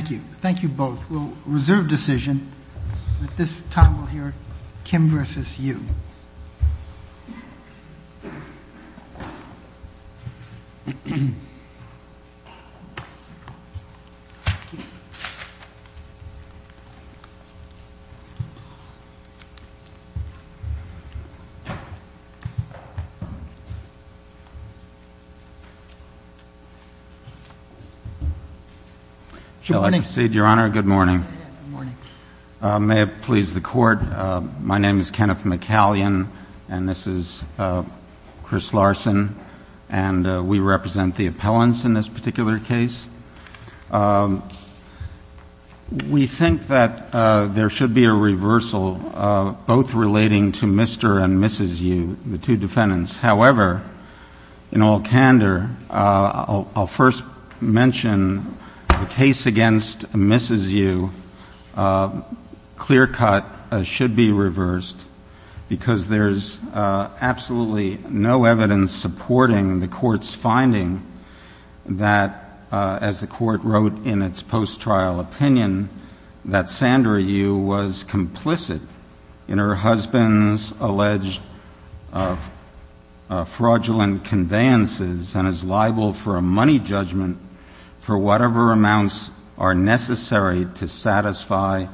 Thank you. Thank you both. We'll reserve decision, but this time we'll hear Kim v. Yoo. Should I proceed, Your Honor? Good morning. May it please the Court, my name is Kenneth McCallion and this is Chris Larson, and we represent the appellants in this particular case. We think that there should be a reversal, both relating to Mr. and Mrs. Yoo, the two defendants. However, in all candor, I'll first mention the case against Mrs. Yoo, clear cut, should be reversed, because there's absolutely no evidence supporting the Court's finding that, as the Court wrote in its post-trial opinion, that Sandra Yoo was complicit in her husband's alleged fraudulent conveyances and is liable for a money judgment for whatever amounts are necessary to satisfy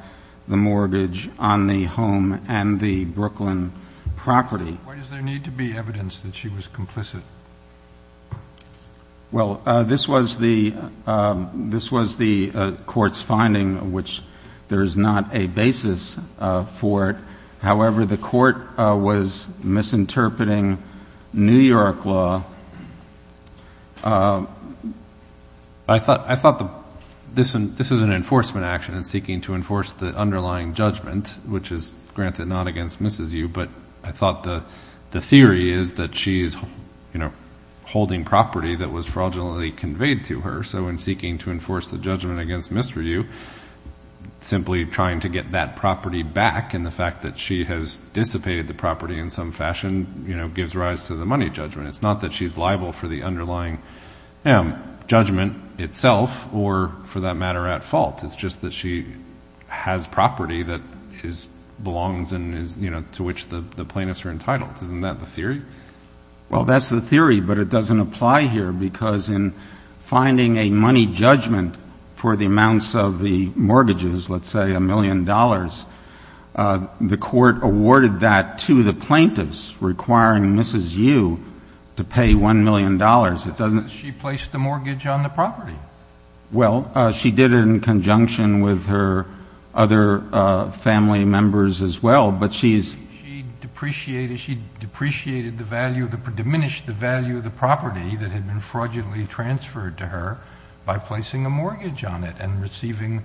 the mortgage on the home and the Brooklyn property. Why does there need to be evidence that she was complicit? Well, this was the Court's finding, which there is not a basis for it. However, the Court was this is an enforcement action in seeking to enforce the underlying judgment, which is granted not against Mrs. Yoo, but I thought the theory is that she's holding property that was fraudulently conveyed to her, so in seeking to enforce the judgment against Mr. Yoo, simply trying to get that property back and the fact that she has dissipated the property in some fashion gives rise to the money judgment. It's not that she's liable for the underlying judgment itself or for that matter at fault. It's just that she has property that belongs to which the plaintiffs are entitled. Isn't that the theory? Well, that's the theory, but it doesn't apply here, because in finding a money judgment for the amounts of the mortgages, let's say a million dollars, the Court awarded that to the plaintiffs, requiring Mrs. Yoo to pay one million dollars. She placed the mortgage on the property. Well, she did it in conjunction with her other family members as well, but she's... She depreciated, she depreciated the value, diminished the value of the property that had been fraudulently transferred to her by placing a mortgage on it and receiving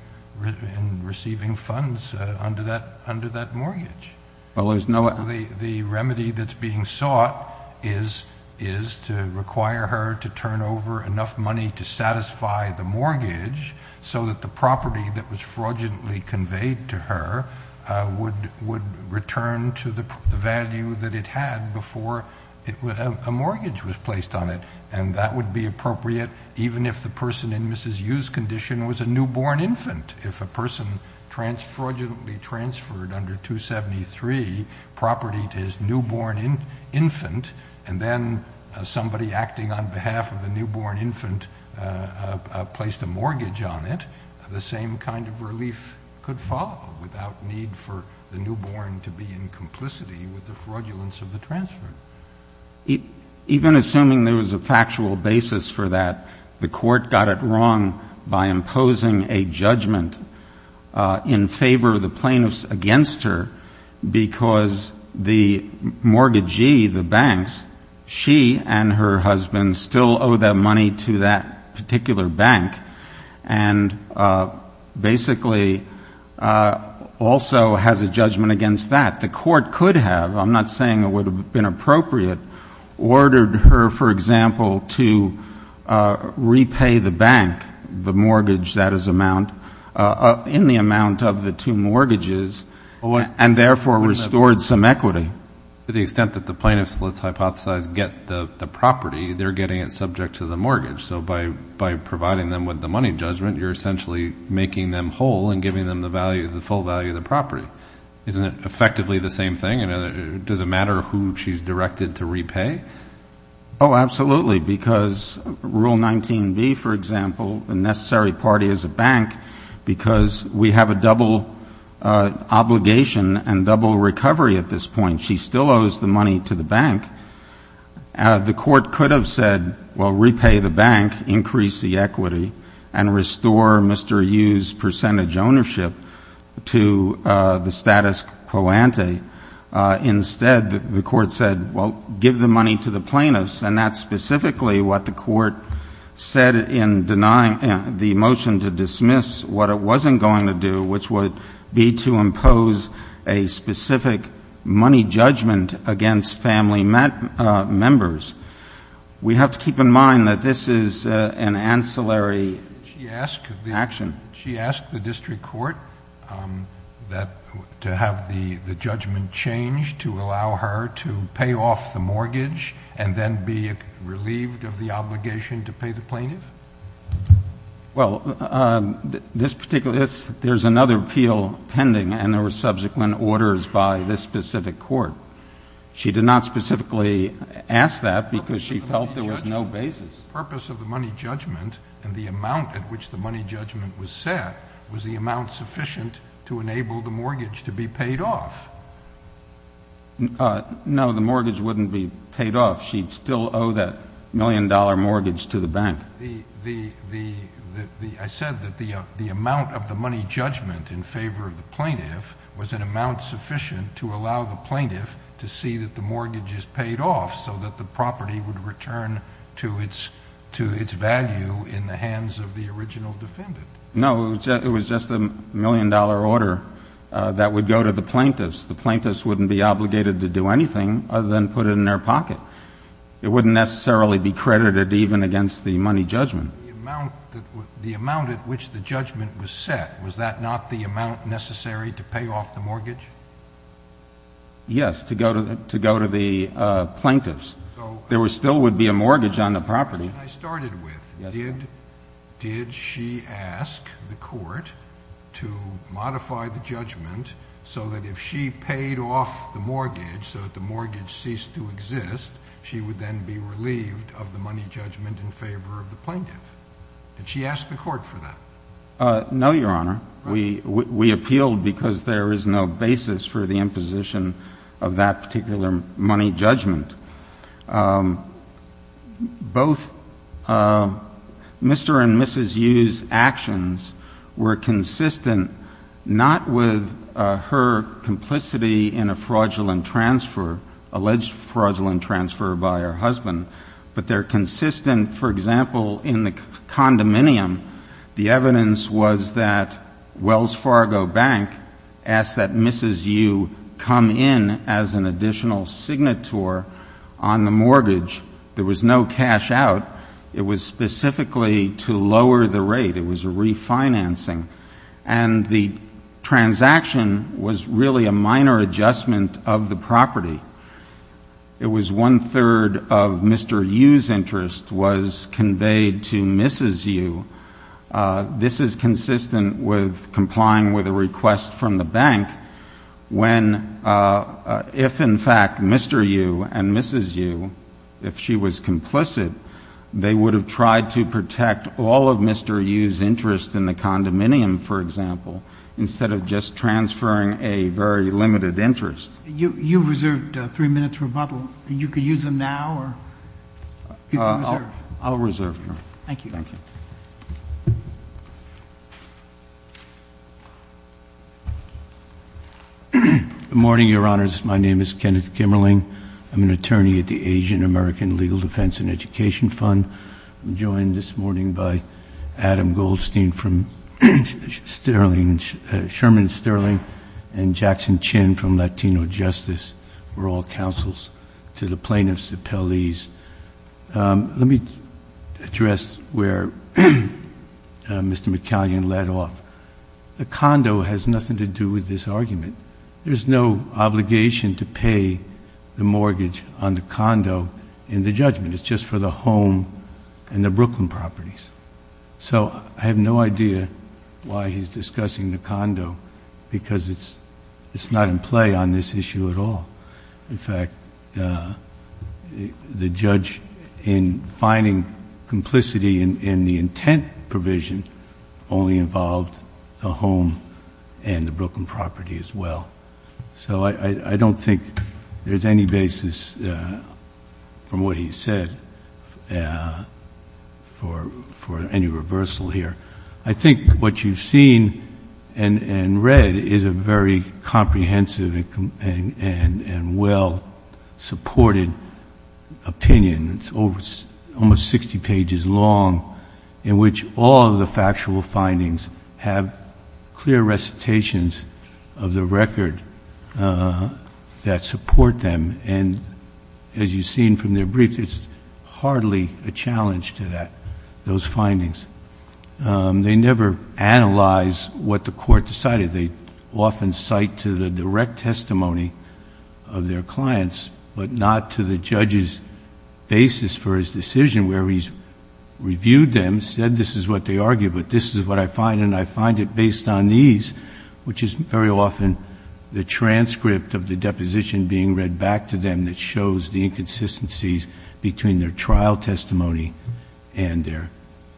funds under that mortgage. Well, there's no... The remedy that's being sought is to require her to turn over enough money to satisfy the mortgage so that the property that was fraudulently conveyed to her would return to the value that it had before a mortgage was placed on it. That would be appropriate even if the person in Mrs. Yoo's newborn infant, and then somebody acting on behalf of the newborn infant placed a mortgage on it, the same kind of relief could follow without need for the newborn to be in complicity with the fraudulence of the transfer. Even assuming there was a factual basis for that, the Court got it wrong by imposing a judgment in favor of the plaintiffs against her because the mortgagee, the banks, she and her husband still owe their money to that particular bank and basically also has a judgment against that. The Court could have, I'm not saying it would have been appropriate, ordered her, for example, to repay the bank the mortgage that is amount... in the amount of the two mortgages and therefore restored some equity. To the extent that the plaintiffs, let's hypothesize, get the property, they're getting it subject to the mortgage. So by providing them with the money judgment, you're essentially making them whole and giving them the value, the full value of the property. Isn't it effectively the same thing? Does it matter who she's directed to repay? Oh, absolutely. Because Rule 19b, for example, the necessary party is a bank because we have a double obligation and double recovery at this point. She still owes the money to the bank. The Court could have said, well, repay the bank, instead the Court said, well, give the money to the plaintiffs. And that's specifically what the Court said in denying the motion to dismiss what it wasn't going to do, which would be to impose a specific money judgment against family members. We have to keep in mind that this is an ancillary action. She asked the district court to have the judgment changed to allow her to pay off the mortgage and then be relieved of the obligation to pay the plaintiff? Well, there's another appeal pending and there were subsequent orders by this specific Court. She did not specifically ask that because she felt there was no basis. The purpose of the money judgment and the amount at which the money judgment was set was the amount sufficient to enable the mortgage to be paid off. No, the mortgage wouldn't be paid off. She'd still owe that million dollar mortgage to the bank. I said that the amount of the money judgment in favor of the plaintiff was an amount sufficient to allow the plaintiff to see that the mortgage is paid off so that the property would return to its value in the hands of the original defendant. No, it was just a million dollar order that would go to the plaintiffs. The plaintiffs wouldn't be obligated to do anything other than put it in their pocket. It wouldn't necessarily be credited even against the money judgment. The amount at which the judgment was set, was that not the amount necessary to pay off the mortgage? Yes, to go to the plaintiffs. There still would be a mortgage on the property. I started with, did she ask the Court to modify the judgment so that if she paid off the mortgage, so that the mortgage ceased to exist, she would then be relieved of the money judgment in favor of the plaintiff? Did she ask the Court for that? No, Your Honor. We appealed because there is no basis for the imposition of that particular money judgment. Both Mr. and Mrs. Yu's actions were consistent, not with her complicity in a fraudulent transfer, alleged fraudulent transfer by her husband, but they're consistent. For example, in the condominium, the evidence was that Wells Fargo Bank asked that Mrs. Yu come in as an additional signator on the mortgage. There was no cash out. It was specifically to lower the rate. It was a refinancing. And the transaction was really a minor adjustment of the property. It was one-third of Mr. Yu's interest was conveyed to Mrs. Yu. This is consistent with complying with a request from the bank when, if in fact Mr. Yu and Mrs. Yu, if she was complicit, they would have tried to protect all of Mr. Yu's interest in the condominium, for example, instead of just transferring a very limited interest. You've reserved three minutes for rebuttal. You could use them now. I'll reserve. Good morning, Your Honors. My name is Kenneth Kimmerling. I'm an attorney at the Asian American Legal Defense and Education Fund. I'm joined this morning by Adam Goldstein from Sherman Sterling and Jackson Chin from Latino Justice. We're all counsels to the plaintiffs, the appellees. Let me address where Mr. McCallion led off. The condo has nothing to do with this argument. There's no obligation to pay the mortgage on the condo in the judgment. It's just for the home and the Brooklyn properties. I have no idea why he's discussing the condo because it's not in play on this issue at all. In fact, the judge, in finding complicity in the intent provision, only involved the home and the Brooklyn property as well. I don't think there's any basis from what he said for any reversal here. I think what you've seen and read is a very comprehensive and well-supported opinion. It's almost 60 pages long in which all of the factual findings have clear recitations of the record that support them. As you've seen from their briefs, it's hardly a challenge to those findings. They never analyze what the court decided. They often cite to the direct testimony of their clients, but not to the judge's basis for his decision where he's reviewed them, said this is what they argue, but this is what I find. I find it based on these, which is very often the transcript of the deposition being read back to them that shows the inconsistencies between their trial testimony and their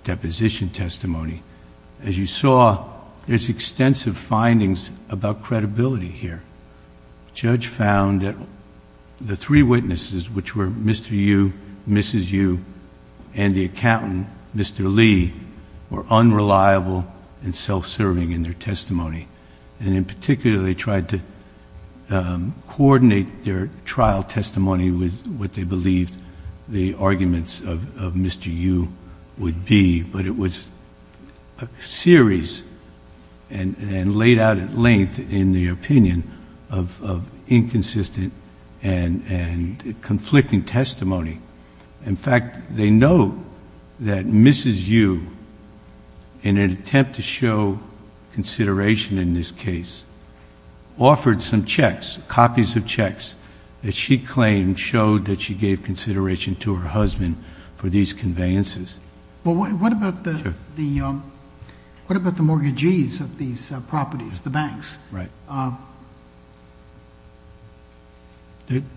deposition testimony. As you saw, there's extensive findings about credibility here. The judge found that the three witnesses, which were Mr. Yu, Mrs. Yu, and the accountant, Mr. Lee, were unreliable and self-serving in their testimony. In particular, they tried to coordinate their series and laid out at length in the opinion of inconsistent and conflicting testimony. In fact, they know that Mrs. Yu, in an attempt to show consideration in this case, offered some checks, copies of checks that she claimed showed that she gave consideration to her husband for these conveyances. What about the mortgagees of these properties, the banks?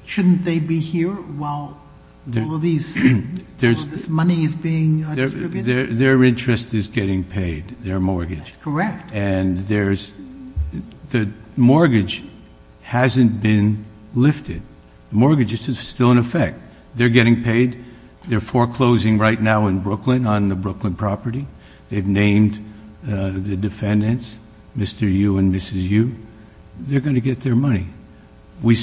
Shouldn't they be here while all of this money is being distributed? Their interest is getting paid, their mortgage. That's correct. And the mortgage hasn't been lifted. Mortgage is still in effect. They're getting paid. They're foreclosing right now in Brooklyn on the Brooklyn property. They've named the defendants, Mr. Yu and Mrs. Yu. They're going to get their money. We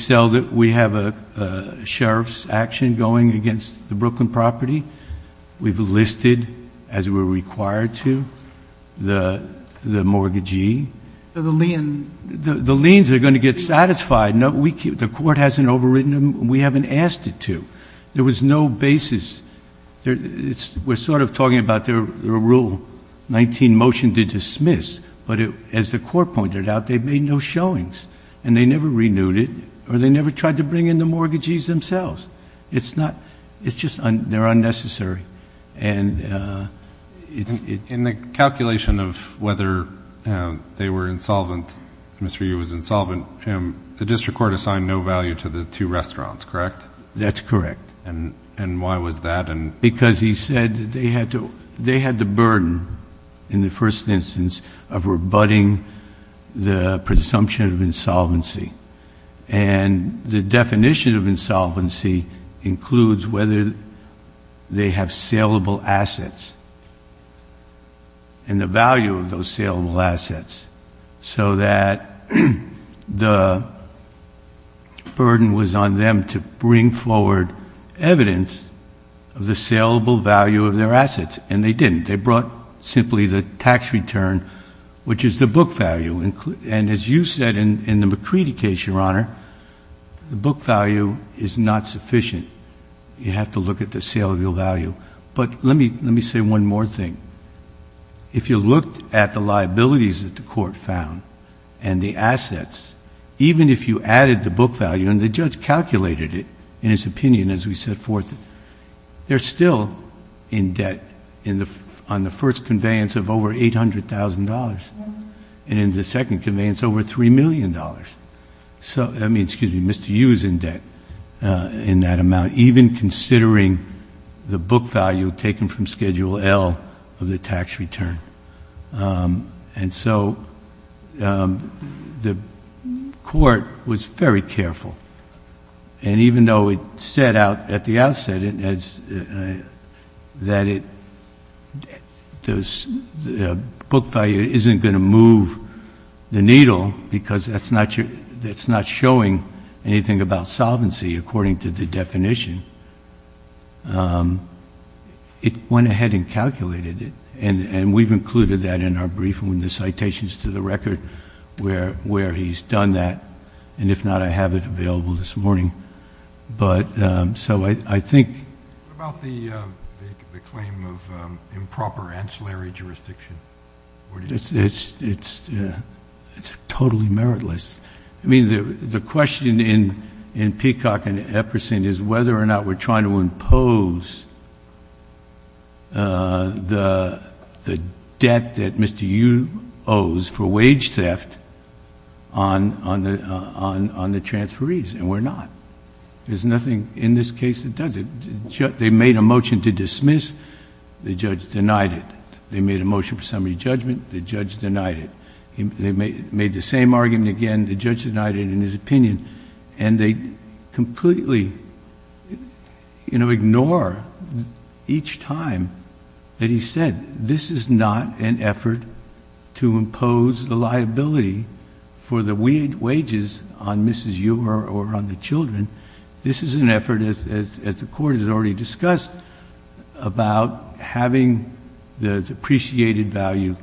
have a sheriff's action going against the Brooklyn property. We've listed, as we're required to, the mortgagee. The liens are going to get satisfied. The court hasn't overwritten them. We haven't asked it to. There was no basis. We're sort of talking about their Rule 19 motion to dismiss, but as the court pointed out, they've made no showings, and they never renewed it, or they never tried to bring in the mortgagees themselves. They're unnecessary. In the calculation of whether they were insolvent, Mr. Yu was insolvent, the district court assigned no value to the two restaurants, correct? That's correct. And why was that? Because he said they had the burden, in the first instance, of rebutting the presumption of the definition of insolvency includes whether they have saleable assets and the value of those saleable assets, so that the burden was on them to bring forward evidence of the saleable value of their assets, and they didn't. They brought simply the tax return, which is the book value. And as you said in the McCready case, Your Honor, the book value is not sufficient. You have to look at the saleable value. But let me say one more thing. If you looked at the liabilities that the court found and the assets, even if you added the book value, and the judge calculated it in his opinion as we set forth, they're still in debt on the first conveyance of over $800,000 and in the second conveyance over $3 million. So, I mean, excuse me, Mr. Yu is in debt in that amount, even considering the book value taken from Schedule L of the tax return. And so the court was very careful. And even though it set out at the outset that the book value isn't going to move the needle because that's not showing anything about solvency according to the definition, it went ahead and calculated it. And we've included that in our brief in the citations to the record where he's done that. And if not, I have it available this morning. But so I think What about the claim of improper ancillary jurisdiction? It's totally meritless. I mean, the question in Peacock and Epperson is whether or not we're trying to impose the debt that Mr. Yu owes for wage theft on the transferees, and we're not. There's nothing in this case that does it. They made a motion to dismiss, the judge denied it. They made a motion for summary judgment, the judge denied it. They made the same argument again, the judge denied it in his opinion. And they completely ignore each time that he said, this is not an effort to impose the liability for the wages on Mrs. Yu or on the children. This is an effort, as the court has already discussed, about having the depreciated value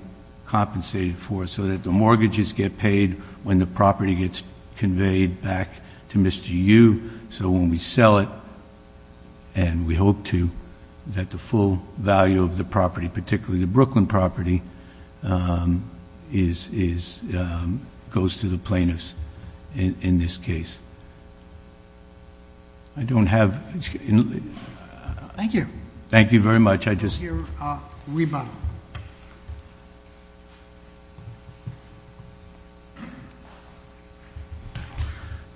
compensated for so that the mortgages get paid when the property gets conveyed back to Mr. Yu. So when we sell it, and we hope to, that the full value of the property, particularly the Brooklyn property, goes to the plaintiffs in this case. I don't have... Thank you. Thank you very much. Your rebuttal.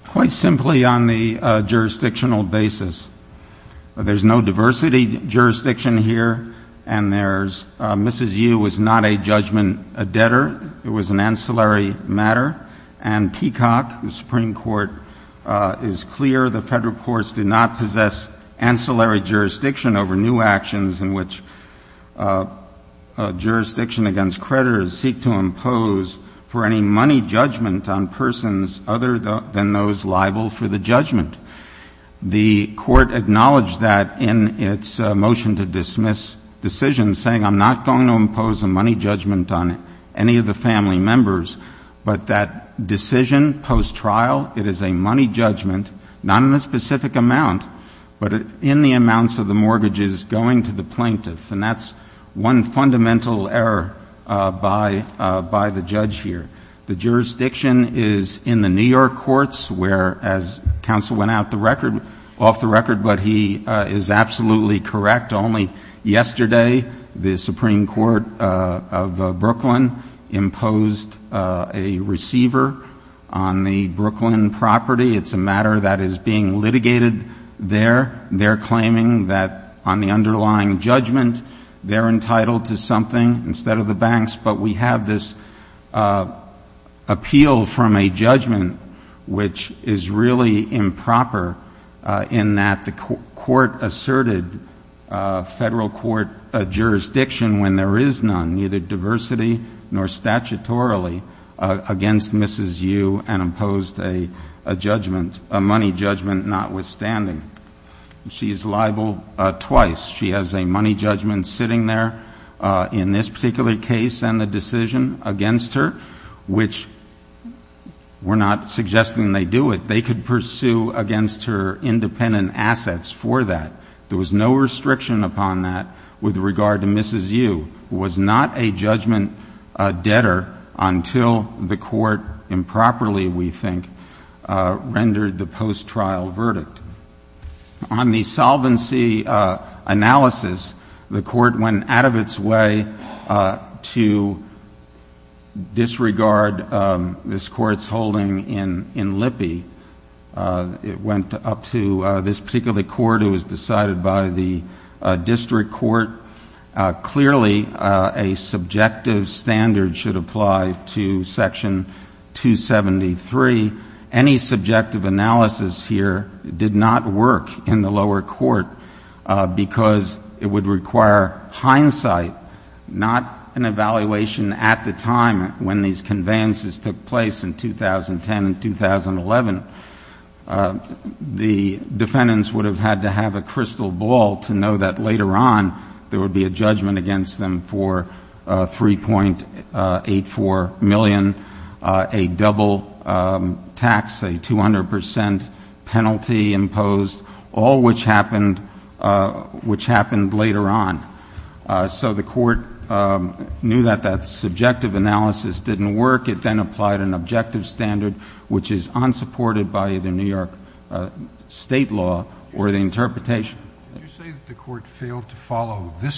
Quite simply on the jurisdictional basis, there's no diversity jurisdiction here, and there's Mrs. Yu was not a judgment debtor. It was an ancillary matter. And Peacock, the Supreme Court, is clear the federal courts do not possess ancillary jurisdiction over new actions in which jurisdiction against creditors seek to impose for any money judgment on persons other than those liable for the judgment. The court acknowledged that in its motion to dismiss decisions saying, I'm not going to impose a money judgment on any of the family members, but that decision post-trial, it is a money judgment, not in a specific amount, but in the amounts of the mortgages going to the plaintiff. And that's one fundamental error by the judge here. The jurisdiction is in the New York courts, where as counsel went off the record, but he is absolutely correct. Only yesterday, the Supreme Court of Brooklyn imposed a receiver on the Brooklyn property. It's a matter that is being litigated there. They're claiming that on the underlying judgment, they're entitled to something instead of the banks. But we have this appeal from a judgment, which is really improper in that the court asserted federal court jurisdiction when there is none, neither diversity nor statutorily, against Mrs. Yu and imposed a judgment, a money judgment notwithstanding. She is liable twice. She has a money judgment sitting there in this particular case and the decision against her, which we're not suggesting they do it. They could pursue against her independent assets for that. There was no restriction upon that with regard to Mrs. Yu, who was not a judgment debtor until the court improperly, we think, rendered the post-trial verdict. On the solvency analysis, the court went out of its way to disregard this court's holding in Lippe. It went up to this particular court. It was decided by the district court. Clearly, a subjective standard should apply to Section 273. Any subjective analysis here did not work in the lower court because it would require hindsight, not an evaluation at the time when these conveyances took place in 2010 and 2011. The defendants would have had to have a judgment against them for $3.84 million, a double tax, a 200 percent penalty imposed, all which happened later on. So the court knew that that subjective analysis didn't work. It then applied an objective standard, which is unsupported by either New York state law or the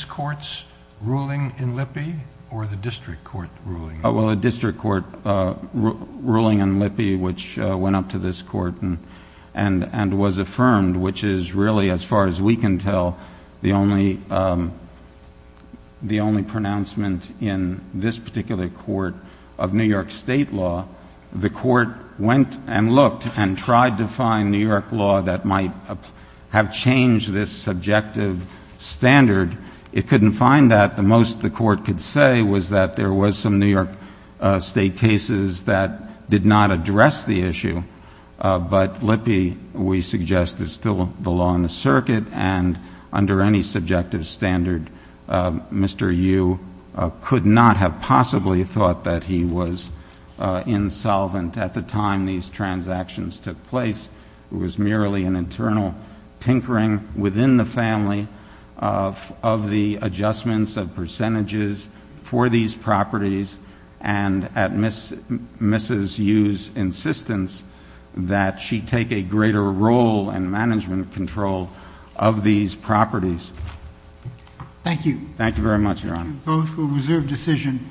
court's ruling in Lippe or the district court ruling. Well, the district court ruling in Lippe, which went up to this court and was affirmed, which is really, as far as we can tell, the only pronouncement in this particular court of New York state law. The court went and looked and tried to find New York law that might have changed this subjective standard. It couldn't find that. The most the court could say was that there was some New York state cases that did not address the issue. But Lippe, we suggest, is still the law in the circuit. And under any subjective standard, Mr. Yu could not have possibly thought that he was insolvent at the time these transactions took place. It was merely an internal tinkering within the family of the adjustments of percentages for these properties and at Mrs. Yu's insistence that she take a greater role in management control of these properties. Thank you. Thank you very much, Your Honor. Both will reserve decision.